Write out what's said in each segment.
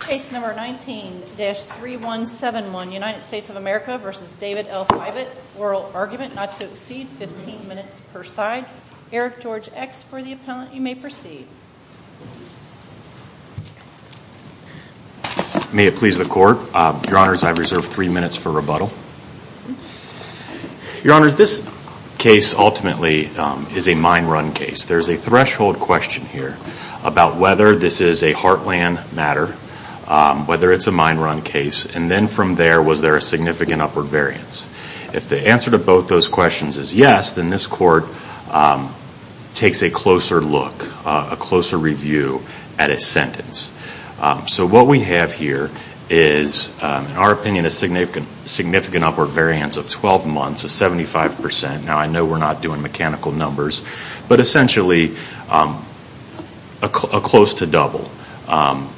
Case number 19-3171, United States of America v. David L. Fievet, oral argument not to exceed 15 minutes per side. Eric George X for the appellant, you may proceed. May it please the court, your honors, I reserve three minutes for rebuttal. Your honors, this case ultimately is a mine run case. There's a threshold question here about whether this is a heartland matter, whether it's a mine run case. And then from there, was there a significant upward variance? If the answer to both those questions is yes, then this court takes a closer look, a closer review at a sentence. So what we have here is, in our opinion, a significant upward variance of 12 months of 75%. Now I know we're not doing mechanical numbers, but essentially a close to double. And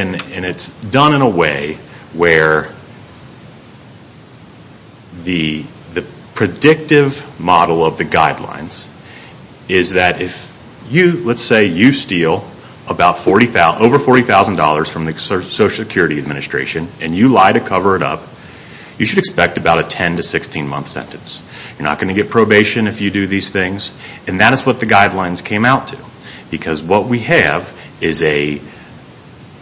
it's done in a way where the predictive model of the guidelines is that if you, let's say you steal over $40,000 from the Social Security Administration and you lie to cover it up, you should expect about a 10 to 16 month sentence. You're not going to get probation if you do these things. And that is what the guidelines came out to. Because what we have is a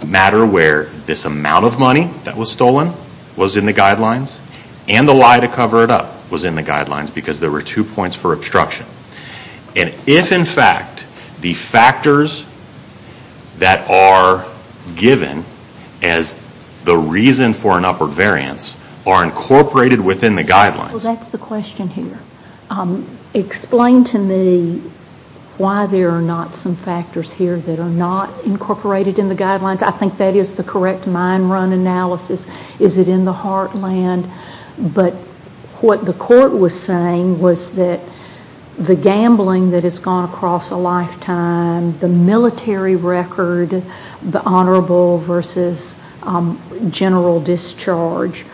matter where this amount of money that was stolen was in the guidelines, and the lie to cover it up was in the guidelines because there were two points for obstruction. And if, in fact, the factors that are given as the reason for an upward variance are incorporated within the guidelines. Well, that's the question here. Explain to me why there are not some factors here that are not incorporated in the guidelines. I think that is the correct mine run analysis. Is it in the heartland? But what the court was saying was that the gambling that has gone across a lifetime, the military record, the honorable versus general discharge,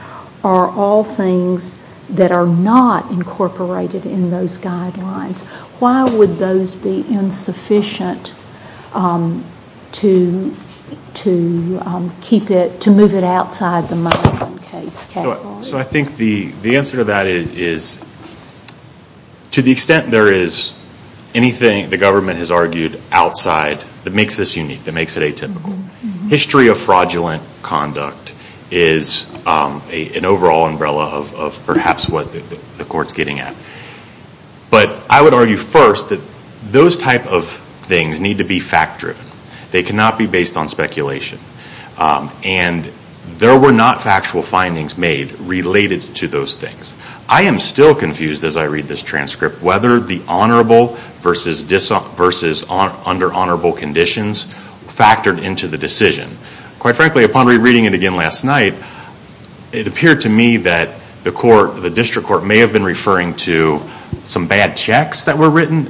are all things that are not incorporated in those guidelines. Why would those be insufficient to keep it, to move it outside the mine run case? So I think the answer to that is to the extent there is anything the government has argued outside that makes this unique, that makes it atypical. History of fraudulent conduct is an overall umbrella of perhaps what the court's getting at. But I would argue first that those type of things need to be fact driven. They cannot be based on speculation. And there were not factual findings made related to those things. I am still confused as I read this transcript whether the honorable versus under honorable conditions factored into the decision. Quite frankly, upon rereading it again last night, it appeared to me that the district court may have been referring to some bad checks that were written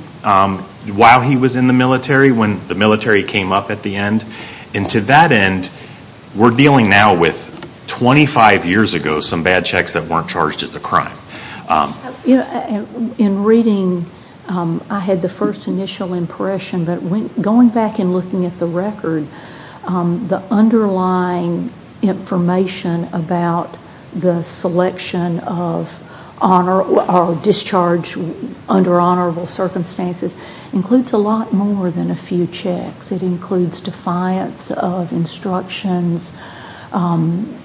while he was in the military, when the military came up at the end. And to that end, we are dealing now with 25 years ago some bad checks that were not charged as a crime. In reading, I had the first initial impression that going back and looking at the record, the underlying information about the selection of discharge under honorable circumstances includes a lot more than a few checks. It includes defiance of instructions. I'm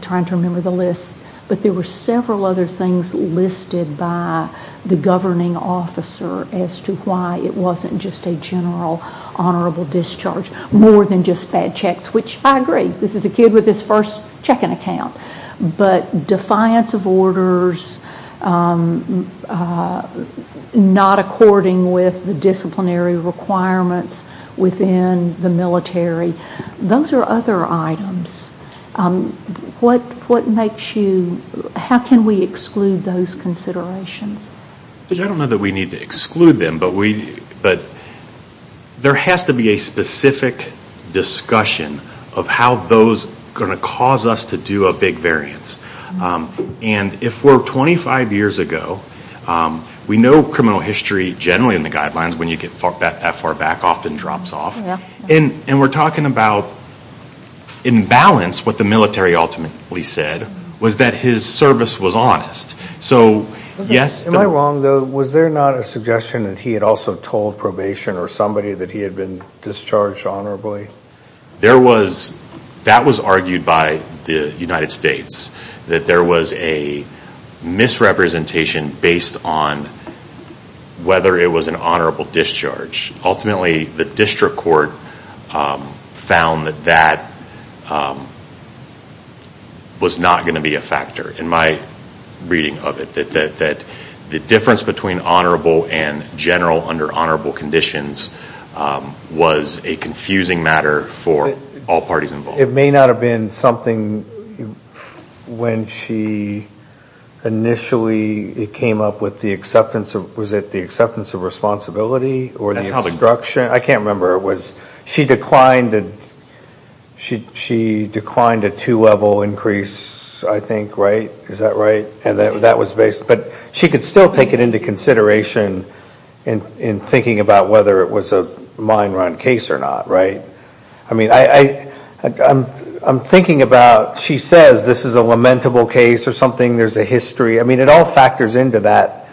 trying to remember the list. But there were several other things listed by the governing officer as to why it wasn't just a general honorable discharge, more than just bad checks, which I agree. This is a kid with his first checking account. But defiance of orders, not according with the disciplinary requirements within the military. Those are other items. How can we exclude those considerations? I don't know that we need to exclude them, but there has to be a specific discussion of how those are going to cause us to do a big variance. And if we're 25 years ago, we know criminal history generally in the guidelines, when you get that far back, often drops off. And we're talking about, in balance, what the military ultimately said was that his service was honest. Am I wrong, though? Was there not a suggestion that he had also told probation or somebody that he had been discharged honorably? That was argued by the United States, that there was a misrepresentation based on whether it was an honorable discharge. Ultimately, the district court found that that was not going to be a factor in my reading of it, that the difference between honorable and general under honorable conditions was a confusing matter for all parties involved. It may not have been something when she initially came up with the acceptance of responsibility? I can't remember. She declined a two-level increase, I think, right? Is that right? But she could still take it into consideration in thinking about whether it was a mine run case or not, right? I mean, I'm thinking about, she says this is a lamentable case or something, there's a history. I mean, it all factors into that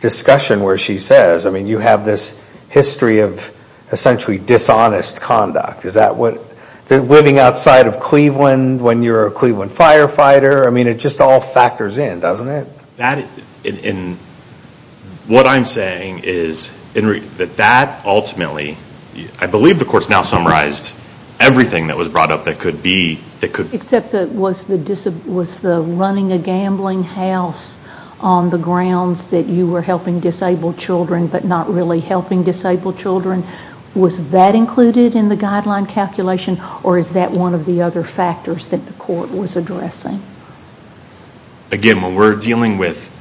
discussion where she says, I mean, you have this history of essentially dishonest conduct. They're living outside of Cleveland when you're a Cleveland firefighter. I mean, it just all factors in, doesn't it? What I'm saying is that that ultimately, I believe the courts now summarized everything that was brought up that could be. Except that was the running a gambling house on the grounds that you were helping disabled children, but not really helping disabled children. Was that included in the guideline calculation? Or is that one of the other factors that the court was addressing? Again, when we're dealing with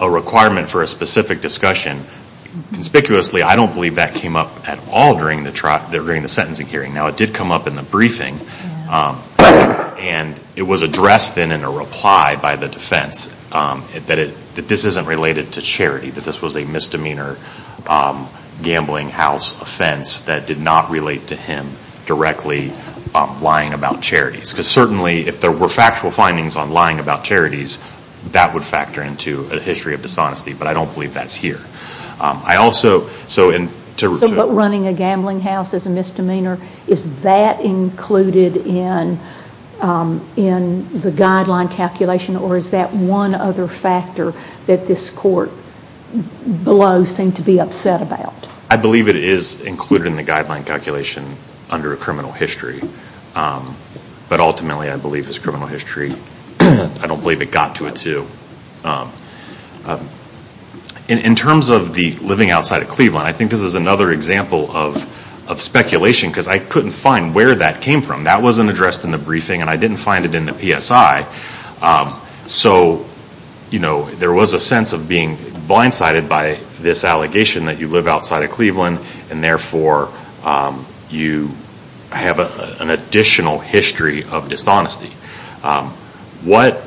a requirement for a specific discussion, conspicuously I don't believe that came up at all during the sentencing hearing. Now, it did come up in the briefing, and it was addressed then in a reply by the defense that this isn't related to charity, that this was a misdemeanor gambling house offense that did not relate to him directly lying about charities. Because certainly, if there were factual findings on lying about charities, that would factor into a history of dishonesty. But I don't believe that's here. So, but running a gambling house as a misdemeanor, is that included in the guideline calculation? Or is that one other factor that this court below seemed to be upset about? I believe it is included in the guideline calculation under a criminal history. But ultimately, I believe it's criminal history. I don't believe it got to a two. In terms of the living outside of Cleveland, I think this is another example of speculation, because I couldn't find where that came from. That wasn't addressed in the briefing, and I didn't find it in the PSI. So, you know, there was a sense of being blindsided by this allegation that you live outside of Cleveland, and therefore you have an additional history of dishonesty. What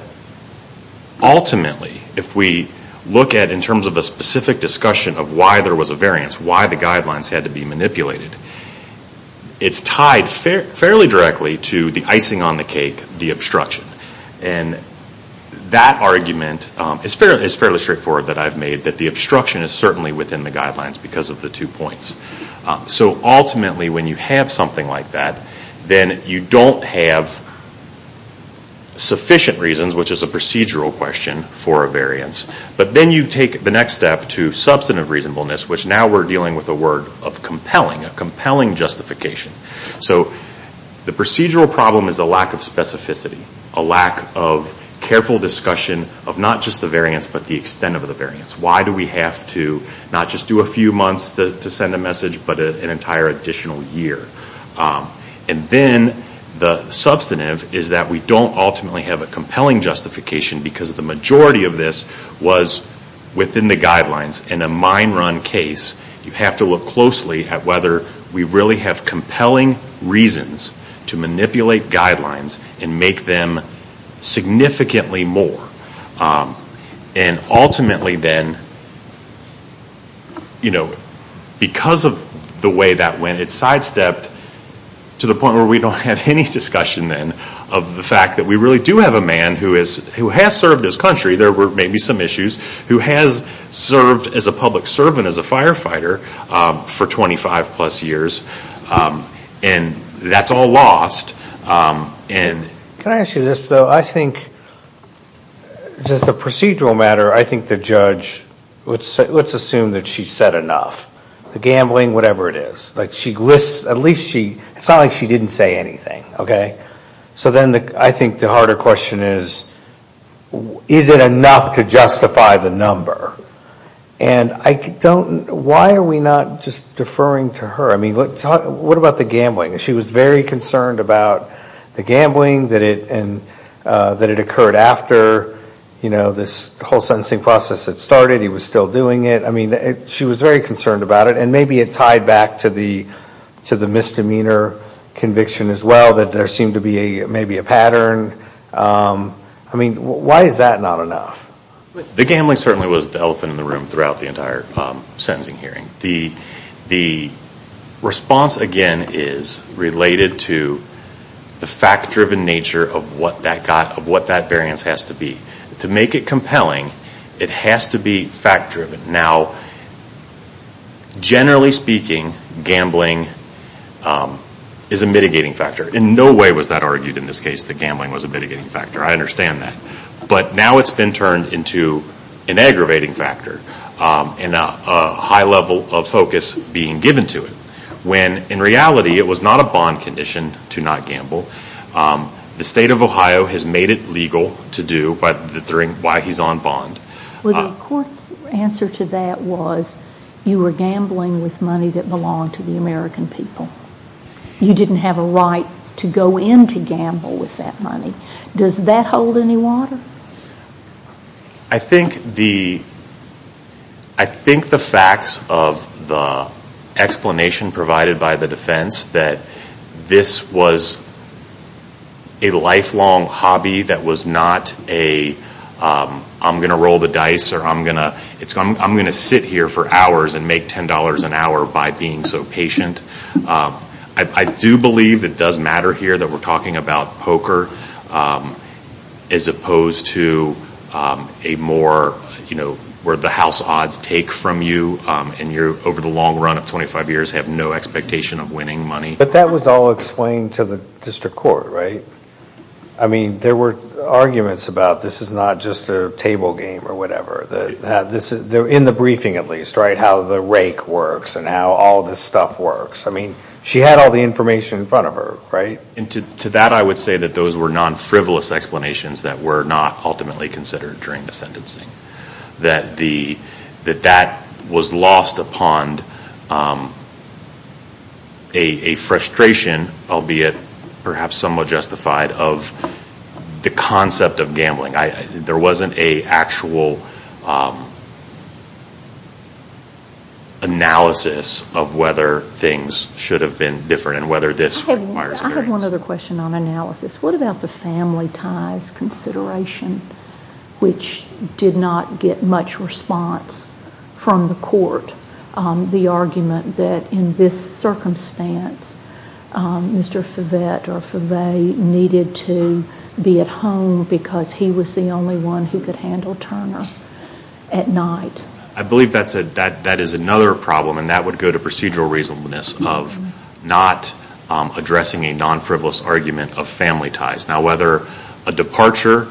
ultimately, if we look at in terms of a specific discussion of why there was a variance, why the guidelines had to be manipulated, it's tied fairly directly to the icing on the cake, the obstruction. And that argument is fairly straightforward that I've made, that the obstruction is certainly within the guidelines because of the two points. So ultimately, when you have something like that, then you don't have sufficient reasons, which is a procedural question for a variance. But then you take the next step to substantive reasonableness, which now we're dealing with a word of compelling, a compelling justification. So the procedural problem is a lack of specificity, a lack of careful discussion of not just the variance, but the extent of the variance. Why do we have to not just do a few months to send a message, but an entire additional year? And then the substantive is that we don't ultimately have a compelling justification because the majority of this was within the guidelines in a mine run case. You have to look closely at whether we really have compelling reasons to manipulate guidelines and make them significantly more. And ultimately then, because of the way that went, it sidestepped to the point where we don't have any discussion then of the fact that we really do have a man who has served his country, there were maybe some issues, who has served as a public servant, as a firefighter, for 25 plus years. And that's all lost. Can I ask you this, though? I think just the procedural matter, I think the judge, let's assume that she said enough. The gambling, whatever it is. At least she, it's not like she didn't say anything, okay? So then I think the harder question is, is it enough to justify the number? And I don't, why are we not just deferring to her? I mean, what about the gambling? She was very concerned about the gambling, that it occurred after, you know, this whole sentencing process had started, he was still doing it. I mean, she was very concerned about it. And maybe it tied back to the misdemeanor conviction as well, that there seemed to be maybe a pattern. I mean, why is that not enough? The gambling certainly was the elephant in the room throughout the entire sentencing hearing. The response, again, is related to the fact-driven nature of what that variance has to be. To make it compelling, it has to be fact-driven. Now, generally speaking, gambling is a mitigating factor. In no way was that argued in this case, that gambling was a mitigating factor. I understand that. But now it's been turned into an aggravating factor. And a high level of focus being given to it. When, in reality, it was not a bond condition to not gamble. The state of Ohio has made it legal to do, why he's on bond. Well, the court's answer to that was, you were gambling with money that belonged to the American people. You didn't have a right to go in to gamble with that money. Does that hold any water? I think the facts of the explanation provided by the defense, that this was a lifelong hobby that was not a, I'm going to roll the dice, or I'm going to sit here for hours and make $10 an hour by being so patient. I do believe it does matter here that we're talking about poker. As opposed to a more, where the house odds take from you, and you, over the long run of 25 years, have no expectation of winning money. But that was all explained to the district court, right? I mean, there were arguments about this is not just a table game or whatever. In the briefing, at least, right? How the rake works and how all this stuff works. I mean, she had all the information in front of her, right? And to that I would say that those were non-frivolous explanations that were not ultimately considered during the sentencing. That that was lost upon a frustration, albeit perhaps somewhat justified, of the concept of gambling. There wasn't an actual analysis of whether things should have been different and whether this requires a variance. I have one other question on analysis. What about the family ties consideration, which did not get much response from the court? The argument that in this circumstance, Mr. Favet or Favet needed to be at home because he was the only one who could handle Turner at night. I believe that is another problem, and that would go to procedural reasonableness, of not addressing a non-frivolous argument of family ties. Now, whether a departure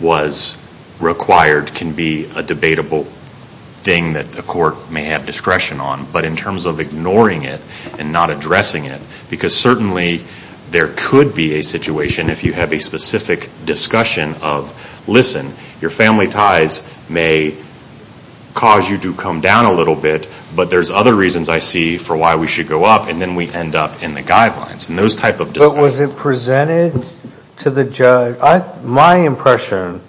was required can be a debatable thing that the court may have discretion on, but in terms of ignoring it and not addressing it, because certainly there could be a situation, if you have a specific discussion of, listen, your family ties may cause you to come down a little bit, but there's other reasons I see for why we should go up, and then we end up in the guidelines, and those type of discussions. But was it presented to the judge? My impression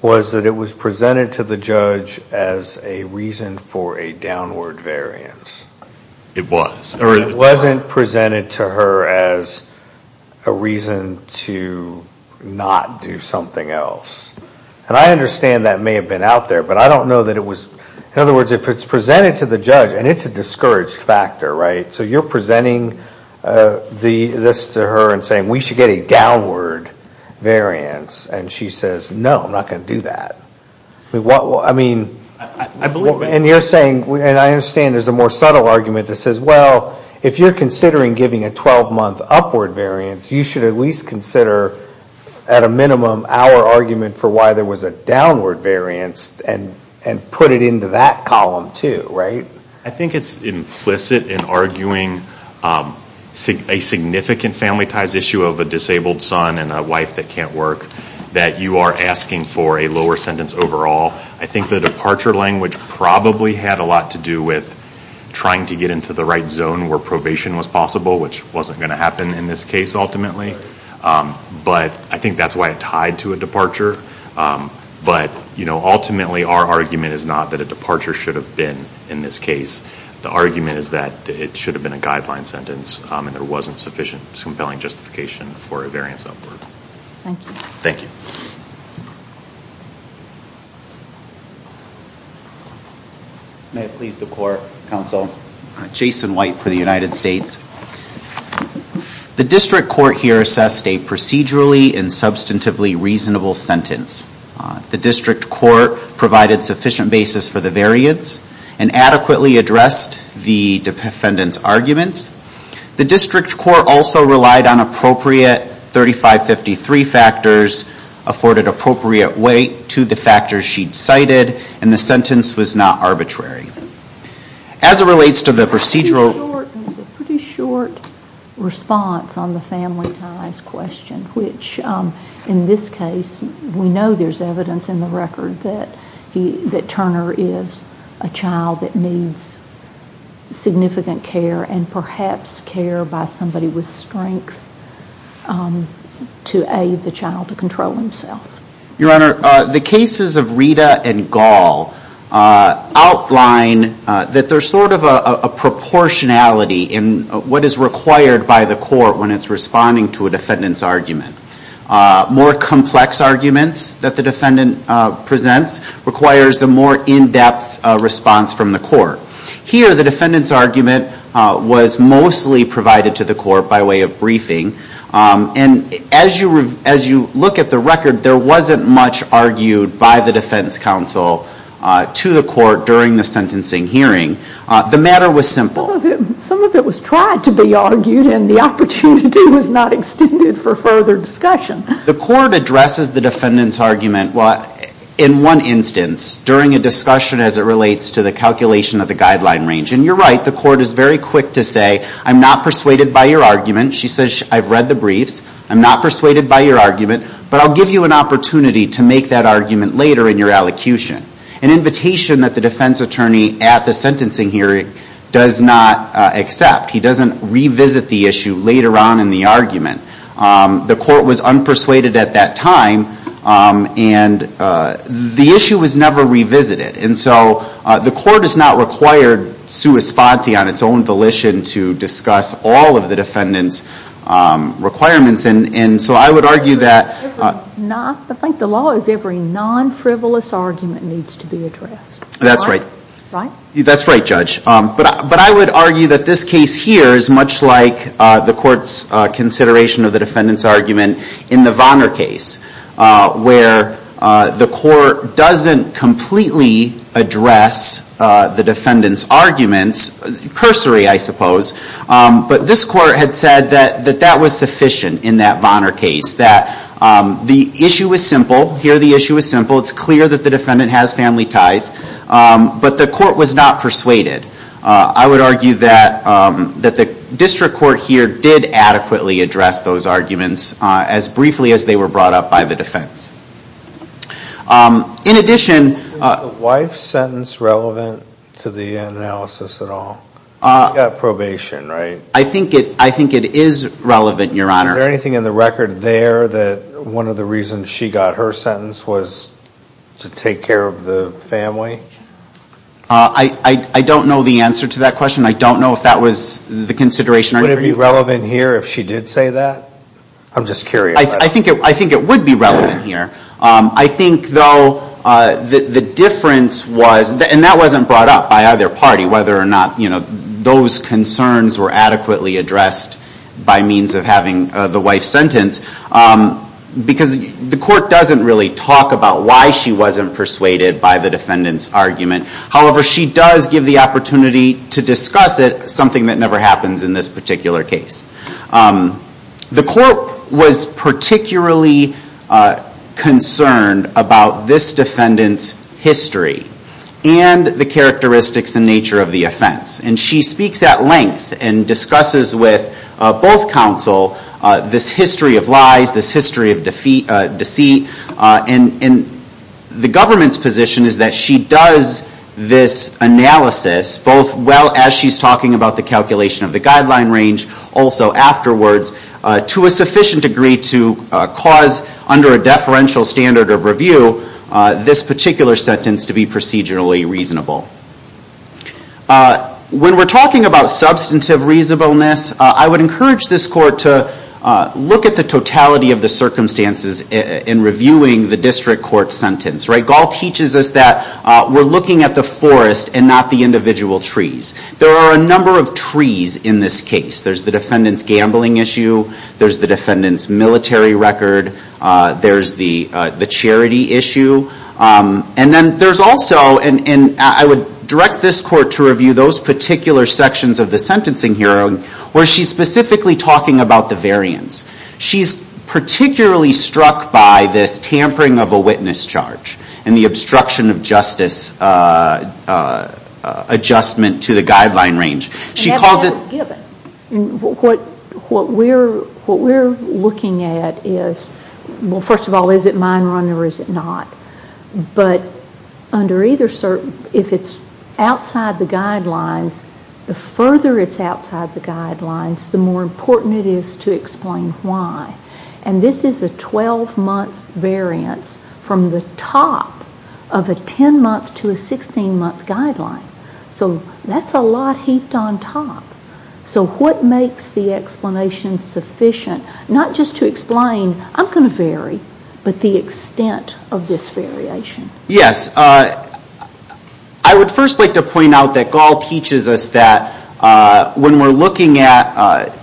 was that it was presented to the judge as a reason for a downward variance. It was. It wasn't presented to her as a reason to not do something else. And I understand that may have been out there, but I don't know that it was. In other words, if it's presented to the judge, and it's a discouraged factor, right? So you're presenting this to her and saying, we should get a downward variance, and she says, no, I'm not going to do that. I mean, and you're saying, and I understand there's a more subtle argument that says, well, if you're considering giving a 12-month upward variance, you should at least consider, at a minimum, our argument for why there was a downward variance and put it into that column, too, right? I think it's implicit in arguing a significant family ties issue of a disabled son and a wife that can't work that you are asking for a lower sentence overall. I think the departure language probably had a lot to do with trying to get into the right zone where probation was possible, which wasn't going to happen in this case, ultimately. But I think that's why it tied to a departure. But, you know, ultimately our argument is not that a departure should have been in this case. The argument is that it should have been a guideline sentence and there wasn't sufficient compelling justification for a variance upward. Thank you. Thank you. May it please the Court, Counsel. Jason White for the United States. The district court here assessed a procedurally and substantively reasonable sentence. The district court provided sufficient basis for the variance and adequately addressed the defendant's arguments. The district court also relied on appropriate 3553 factors, afforded appropriate weight to the factors she'd cited, and the sentence was not arbitrary. As it relates to the procedural... It was a pretty short response on the family ties question, which in this case we know there's evidence in the record that Turner is a child that needs significant care and perhaps care by somebody with strength to aid the child to control himself. Your Honor, the cases of Rita and Gall outline that there's sort of a proportionality in what is required by the court when it's responding to a defendant's argument. More complex arguments that the defendant presents requires a more in-depth response from the court. Here the defendant's argument was mostly provided to the court by way of briefing. And as you look at the record, there wasn't much argued by the defense counsel to the court during the sentencing hearing. The matter was simple. Some of it was tried to be argued, and the opportunity was not extended for further discussion. The court addresses the defendant's argument in one instance during a discussion as it relates to the calculation of the guideline range. And you're right, the court is very quick to say, I'm not persuaded by your argument. She says, I've read the briefs. I'm not persuaded by your argument, but I'll give you an opportunity to make that argument later in your elocution. An invitation that the defense attorney at the sentencing hearing does not accept. He doesn't revisit the issue later on in the argument. The court was unpersuaded at that time, and the issue was never revisited. And so the court has not required sua sponte on its own volition to discuss all of the defendant's requirements. And so I would argue that... I think the law is every non-frivolous argument needs to be addressed. That's right. That's right, Judge. But I would argue that this case here is much like the court's consideration of the defendant's argument in the Vonner case, where the court doesn't completely address the defendant's arguments. Cursory, I suppose. But this court had said that that was sufficient in that Vonner case. That the issue is simple. Here the issue is simple. It's clear that the defendant has family ties. But the court was not persuaded. I would argue that the district court here did adequately address those arguments as briefly as they were brought up by the defense. In addition... Was the wife's sentence relevant to the analysis at all? She got probation, right? I think it is relevant, Your Honor. Is there anything in the record there that one of the reasons she got her sentence was to take care of the family? I don't know the answer to that question. I don't know if that was the consideration. Would it be relevant here if she did say that? I'm just curious. I think it would be relevant here. I think, though, the difference was... And that wasn't brought up by either party, whether or not those concerns were adequately addressed by means of having the wife sentenced. Because the court doesn't really talk about why she wasn't persuaded by the defendant's argument. However, she does give the opportunity to discuss it, something that never happens in this particular case. The court was particularly concerned about this defendant's history and the characteristics and nature of the offense. And she speaks at length and discusses with both counsel this history of lies, this history of deceit. And the government's position is that she does this analysis, both as she's talking about the calculation of the guideline range, also afterwards, to a sufficient degree to cause, under a deferential standard of review, this particular sentence to be procedurally reasonable. When we're talking about substantive reasonableness, I would encourage this court to look at the totality of the circumstances in reviewing the district court sentence. Gall teaches us that we're looking at the forest and not the individual trees. There are a number of trees in this case. There's the defendant's gambling issue. There's the defendant's military record. There's the charity issue. And then there's also... And I would direct this court to review those particular sections of the sentencing hearing where she's specifically talking about the variance. She's particularly struck by this tampering of a witness charge and the obstruction of justice adjustment to the guideline range. She calls it... What we're looking at is... Well, first of all, is it mine run or is it not? But under either... If it's outside the guidelines, the further it's outside the guidelines, the more important it is to explain why. And this is a 12-month variance from the top of a 10-month to a 16-month guideline. So that's a lot heaped on top. So what makes the explanation sufficient, not just to explain, I'm going to vary, but the extent of this variation? Yes. I would first like to point out that Gall teaches us that when we're looking at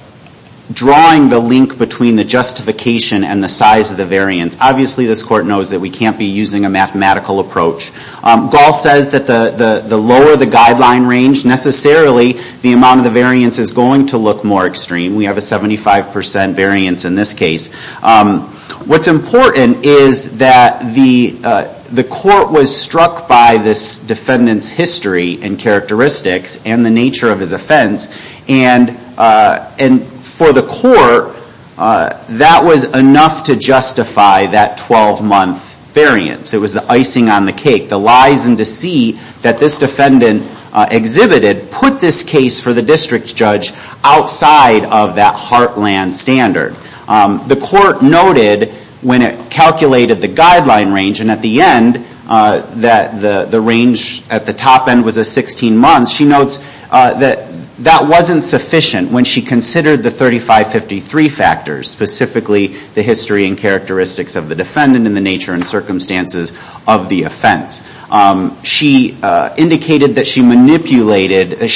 drawing the link between the justification and the size of the variance, obviously this court knows that we can't be using a mathematical approach. Gall says that the lower the guideline range, necessarily the amount of the variance is going to look more extreme. We have a 75% variance in this case. What's important is that the court was struck by this defendant's history and characteristics and the nature of his offense. And for the court, that was enough to justify that 12-month variance. It was the icing on the cake. The lies and deceit that this defendant exhibited put this case for the district judge outside of that heartland standard. The court noted when it calculated the guideline range, and at the end that the range at the top end was a 16 months, she notes that that wasn't sufficient when she considered the 3553 factors, specifically the history and characteristics of the defendant and the nature and circumstances of the offense. she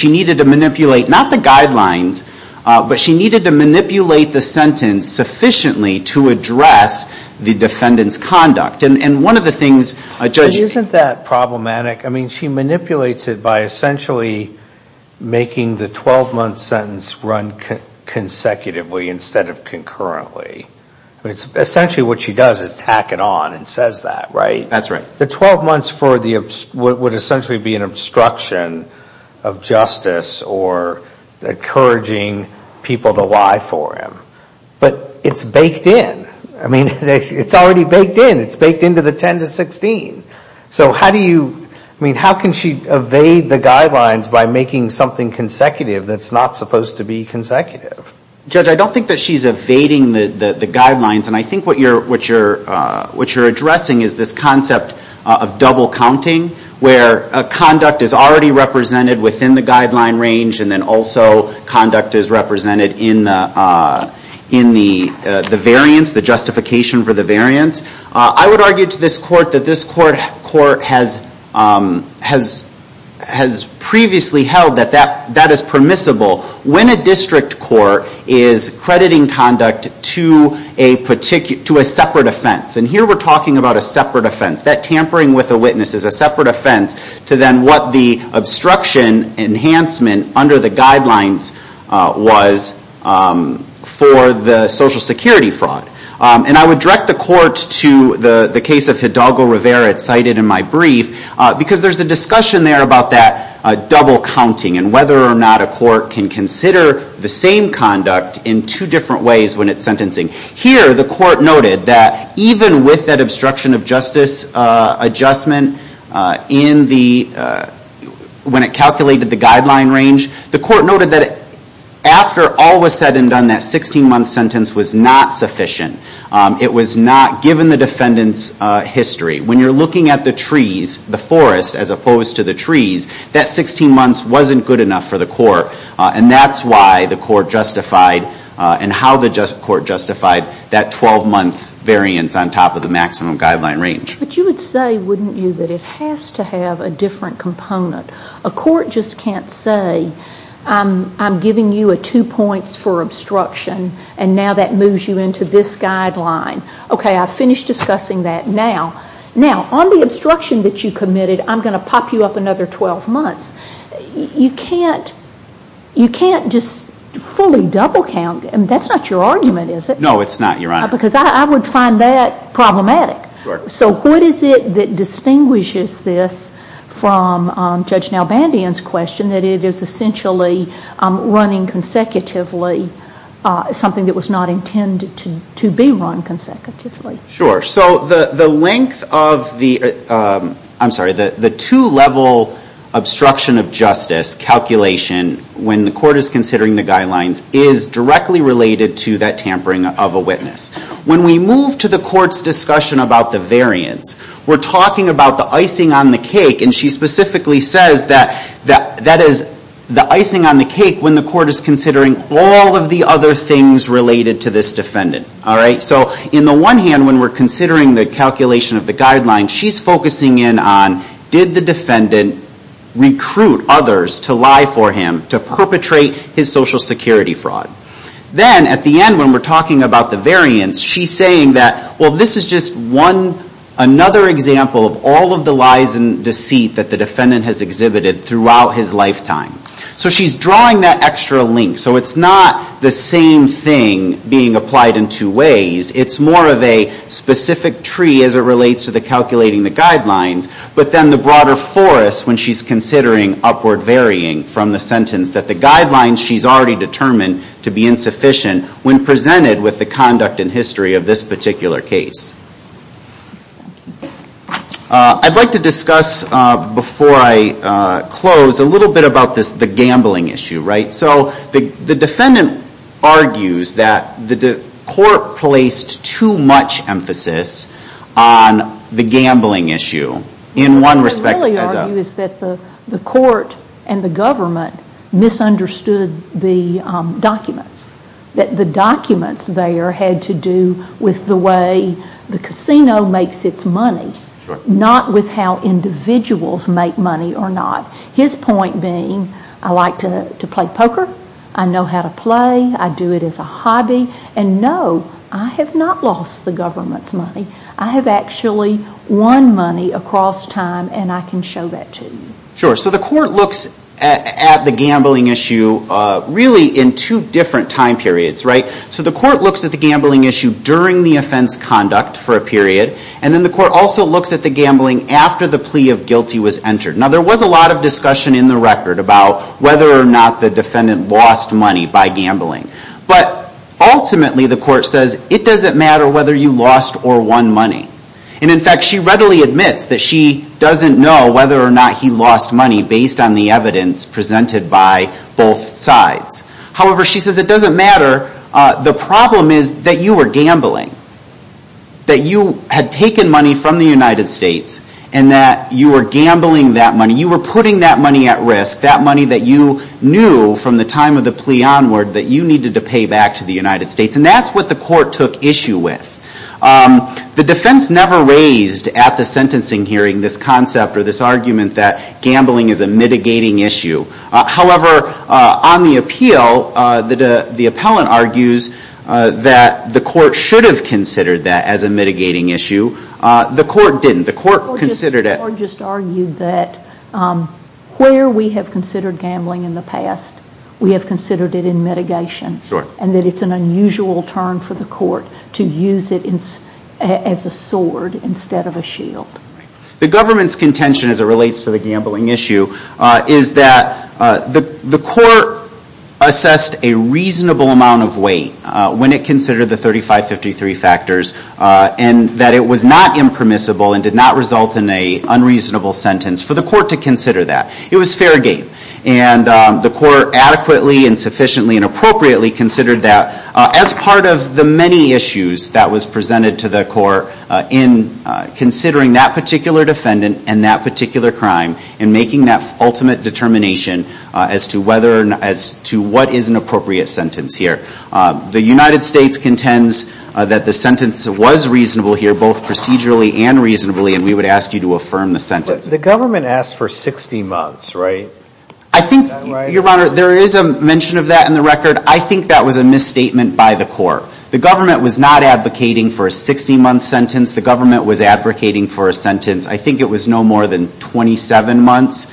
needed to manipulate not the guidelines, but she needed to manipulate the sentence sufficiently to address the defendant's conduct. And one of the things judges... Isn't that problematic? She manipulates it by essentially making the 12-month sentence run consecutively instead of concurrently. Essentially what she does is tack it on and says that, right? That's right. The 12 months would essentially be an obstruction of justice or encouraging people to lie for him. But it's baked in. It's already baked in. It's baked into the 10-16. How can she evade the guidelines by making something consecutive that's not supposed to be consecutive? Judge, I don't think that she's evading the guidelines. I think what you're addressing is this concept of double counting where a conduct is already represented within the guideline range and then also conduct is represented in the variance, the justification for the variance. I would argue to this court that this court has previously held that that is permissible when a district court is crediting conduct to a separate offense. And here we're talking about a separate offense. That tampering with a witness is a separate offense to then what the obstruction enhancement under the guidelines was for the Social Security fraud. And I would direct the court to the case of Hidalgo Rivera cited in my brief because there's a discussion there about that double counting and whether or not a court can consider the same conduct in two different ways when it's sentencing. Here the court noted that even with that obstruction of justice adjustment when it calculated the guideline range, the court noted that after all was said and done that 16-month sentence was not sufficient. It was not given the defendant's history. When you're looking at the trees, the forest as opposed to the trees, that 16 months wasn't good enough for the court. And that's why the court justified and how the court justified that 12-month variance on top of the maximum guideline range. But you would say, wouldn't you, that it has to have a different component. A court just can't say I'm giving you two points for obstruction and now that moves you into this guideline. Okay, I've finished discussing that. Now, on the obstruction that you committed, I'm going to pop you up another 12 months. You can't just fully double count. That's not your argument, is it? No, it's not, Your Honor. Because I would find that problematic. So what is it that distinguishes this from Judge Nalbandian's question that it is essentially running consecutively something that was not intended to be run consecutively? Sure. The two-level obstruction of justice calculation when the court is considering the guidelines is directly related to that tampering of a witness. When we move to the court's discussion about the variance, we're talking about the icing on the cake. And she specifically says that that is the icing on the cake when the court is considering all of the other things related to this defendant. In the one hand, when we're considering the calculation of the guidelines, she's focusing in on did the defendant recruit others to lie for him, to perpetrate his Social Security fraud? Then, at the end, when we're talking about the variance, she's saying that this is just another example of all of the lies and deceit that the defendant has exhibited throughout his lifetime. So she's drawing that extra link. So it's not the same thing being applied in two ways. It's more of a specific tree as it relates to calculating the guidelines. But then the broader forest when she's considering upward varying from the sentence that the guidelines she's already determined to be insufficient when presented with the conduct and history of this particular case. I'd like to discuss before I close a little bit about the gambling issue. So the defendant argues that the court placed too much emphasis on the gambling issue. What I really argue is that the court and the government misunderstood the documents. The documents there had to do with the way the casino makes its money, not with how individuals make money or not. His point being, I like to play poker, I know how to play, I do it as a hobby, and no, I have not lost the government's money. I have actually won money across time and I can show that to you. So the court looks at the gambling issue really in two different time periods. So the court looks at the gambling issue during the offense conduct for a period, and then the court also looks at the gambling after the plea of guilty was entered. Now there was a lot of discussion in the record about whether or not the defendant lost money by gambling. But ultimately, the court says, it doesn't matter whether you lost or won money. And in fact, she readily admits that she doesn't know whether or not he lost money based on the evidence presented by both sides. However, she says it doesn't matter. The problem is that you were gambling. That you had taken money from the United States and that you were gambling that money. You were putting that money at risk, that money that you knew from the time of the plea onward that you needed to pay back to the United States. And that's what the court took issue with. The defense never raised at the sentencing hearing this concept or this argument that gambling is a mitigating issue. However, on the appeal, the appellant argues that the court should have considered that as a mitigating issue. The court didn't. The court just argued that where we have considered gambling in the past, we have considered it in mitigation. And that it's an unusual term for the court to use it as a sword instead of a shield. The government's contention as it relates to the gambling issue is that the court assessed a reasonable amount of weight when it considered the 3553 factors and that it was not impermissible and did not result in an unreasonable sentence for the court to consider that. It was fair game. And the court adequately and sufficiently and appropriately considered that as part of the many issues that was presented to the court in considering that particular defendant and that particular crime and making that ultimate determination as to what is an appropriate sentence here. The United States contends that the sentence was reasonable here, both procedurally and reasonably and we would ask you to affirm the sentence. But the government asked for 60 months, right? I think, Your Honor, there is a mention of that in the record. I think that was a misstatement by the court. The government was not advocating for a 60 month sentence. The government was advocating for a sentence, I think it was no more than 27 months,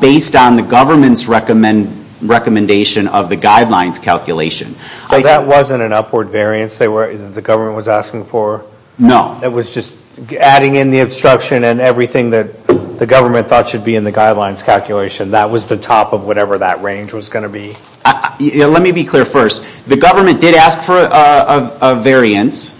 based on the government's recommendation of the guidelines calculation. But that wasn't an upward variance that the government was asking for? No. It was just adding in the obstruction and everything that the government thought should be in the guidelines calculation. That was the top of whatever that range was going to be? Let me be clear first. The government did ask for a variance.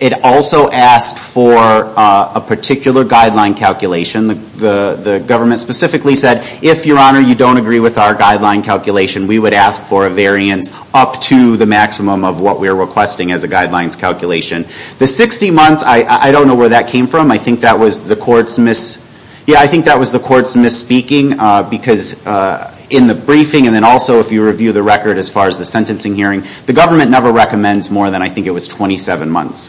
It also asked for a particular guideline calculation. The government specifically said, if, Your Honor, you don't agree with our guideline calculation, we would ask for a variance up to the maximum of what we are requesting as a guidelines calculation. The 60 months, I don't know where that came from. I think that was the court's misspeaking because in the briefing and also if you review the record as far as the sentencing hearing, the government never recommends more than, I think it was, 27 months.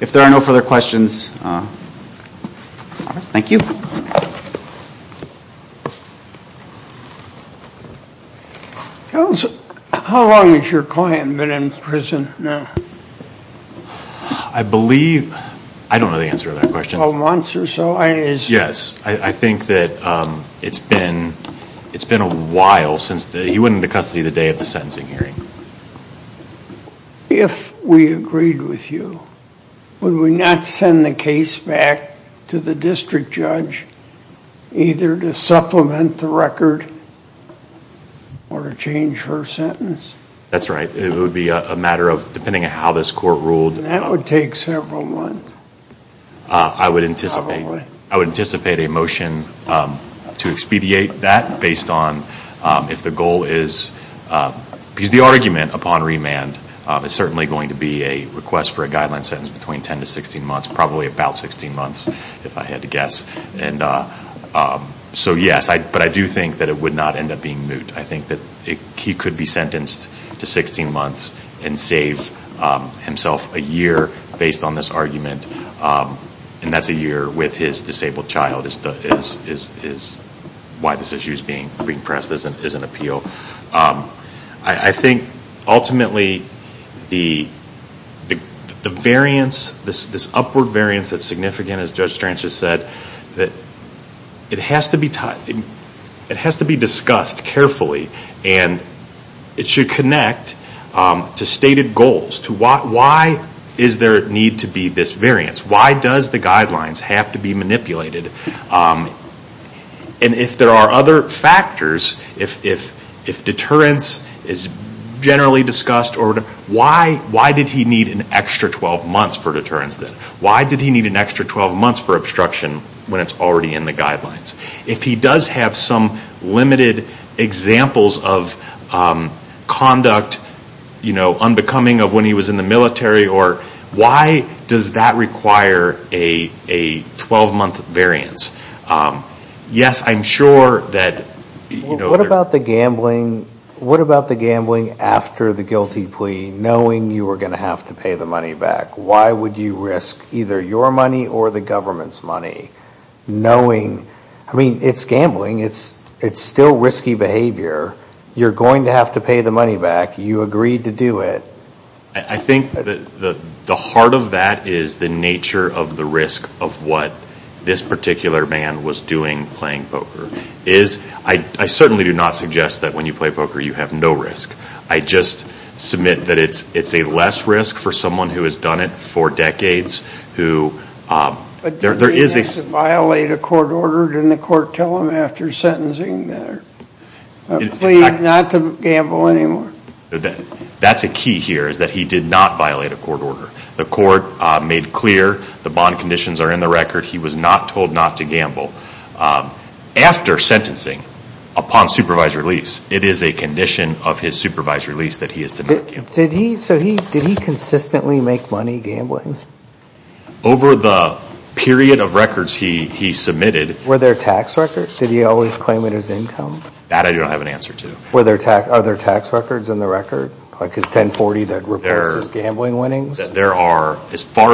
If there are no further questions, thank you. Counsel, how long has your client been in prison now? I believe, I don't know the answer to that question. Months or so? Yes. I think that it's been a while since he went into custody the day of the sentencing hearing. If we agreed with you, would we not send the case back to the district judge either to supplement the record or to change her sentence? That's right. It would be a matter of, depending on how this court ruled. That would take several months. I would anticipate a motion to expedite that based on if the goal is because the argument upon remand is certainly going to be a request for a guideline sentence between 10 to 16 months, probably about 16 months if I had to guess. So yes, but I do think that it would not end up being moot. I think that he could be sentenced to 16 months and save himself a year based on this argument and that's a year with his disabled child is why this issue is being pressed as an appeal. I think ultimately the variance, this upward variance that's significant as Judge Stranch has said it has to be discussed carefully and it should connect to stated goals. Why is there a need to be this variance? Why does the guidelines have to be manipulated? And if there are other factors, if deterrence is generally discussed why did he need an extra 12 months for deterrence? Why did he need an extra 12 months for obstruction when it's already in the guidelines? If he does have some limited examples of conduct unbecoming of when he was in the military why does that require a 12 month variance? What about the gambling after the guilty plea knowing you were going to have to pay the money back? Why would you risk either your money or the government's money knowing, I mean it's gambling it's still risky behavior you're going to have to pay the money back, you agreed to do it. I think the heart of that is the nature of the risk of what this particular man was doing playing poker. I certainly do not suggest that when you play poker you have no risk. I just submit that it's a less risk for someone who has done it for decades who, there is But does he have to violate a court order? Didn't the court tell him after sentencing not to gamble anymore? That's a key here is that he did not violate a court order. The court made clear the bond conditions are in the record he was not told not to gamble. After sentencing, upon supervised release it is a condition of his supervised release that he is to not gamble. Did he consistently make money gambling? Over the period of records he submitted Were there tax records? Did he always claim it as income? That I don't have an answer to. Are there tax records in the record? As far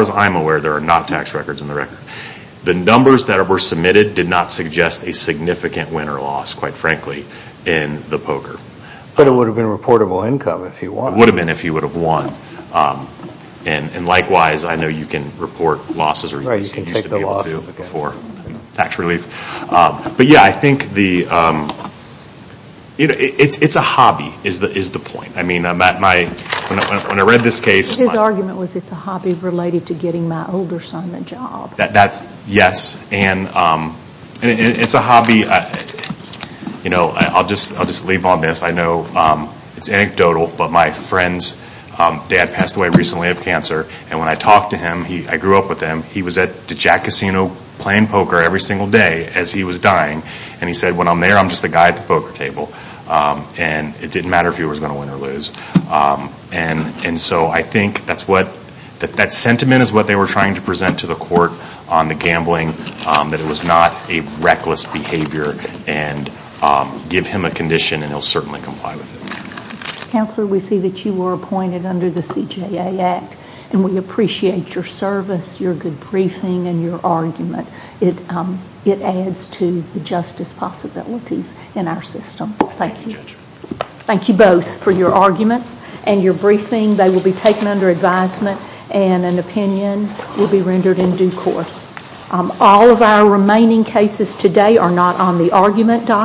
as I'm aware, there are not tax records in the record. The numbers that were submitted did not suggest a significant win or loss, quite frankly in the poker. But it would have been a reportable income if he won. It would have been if he would have won. Likewise, I know you can report losses or you used to be able to before tax relief. But yeah, I think the it's a hobby is the point. When I read this case His argument was it's a hobby related to getting my older son a job. Yes, and it's a hobby I'll just leave on this. I know it's anecdotal but my friend's dad passed away recently of cancer and when I talked to him, I grew up with him he was at the Jack Casino playing poker every single day as he was dying and he said when I'm there I'm just a guy at the poker table and it didn't matter if he was going to win or lose. And so I think that sentiment is what they were trying to present to the court on the gambling, that it was not a reckless behavior and give him a condition and he'll certainly comply with it. Counselor, we see that you were appointed under the CJA Act and we appreciate your service your good briefing and your argument it adds to the justice possibilities in our system. Thank you. Thank you both for your arguments and your briefing they will be taken under advisement and an opinion will be rendered in due course. All of our remaining cases today are not on the argument document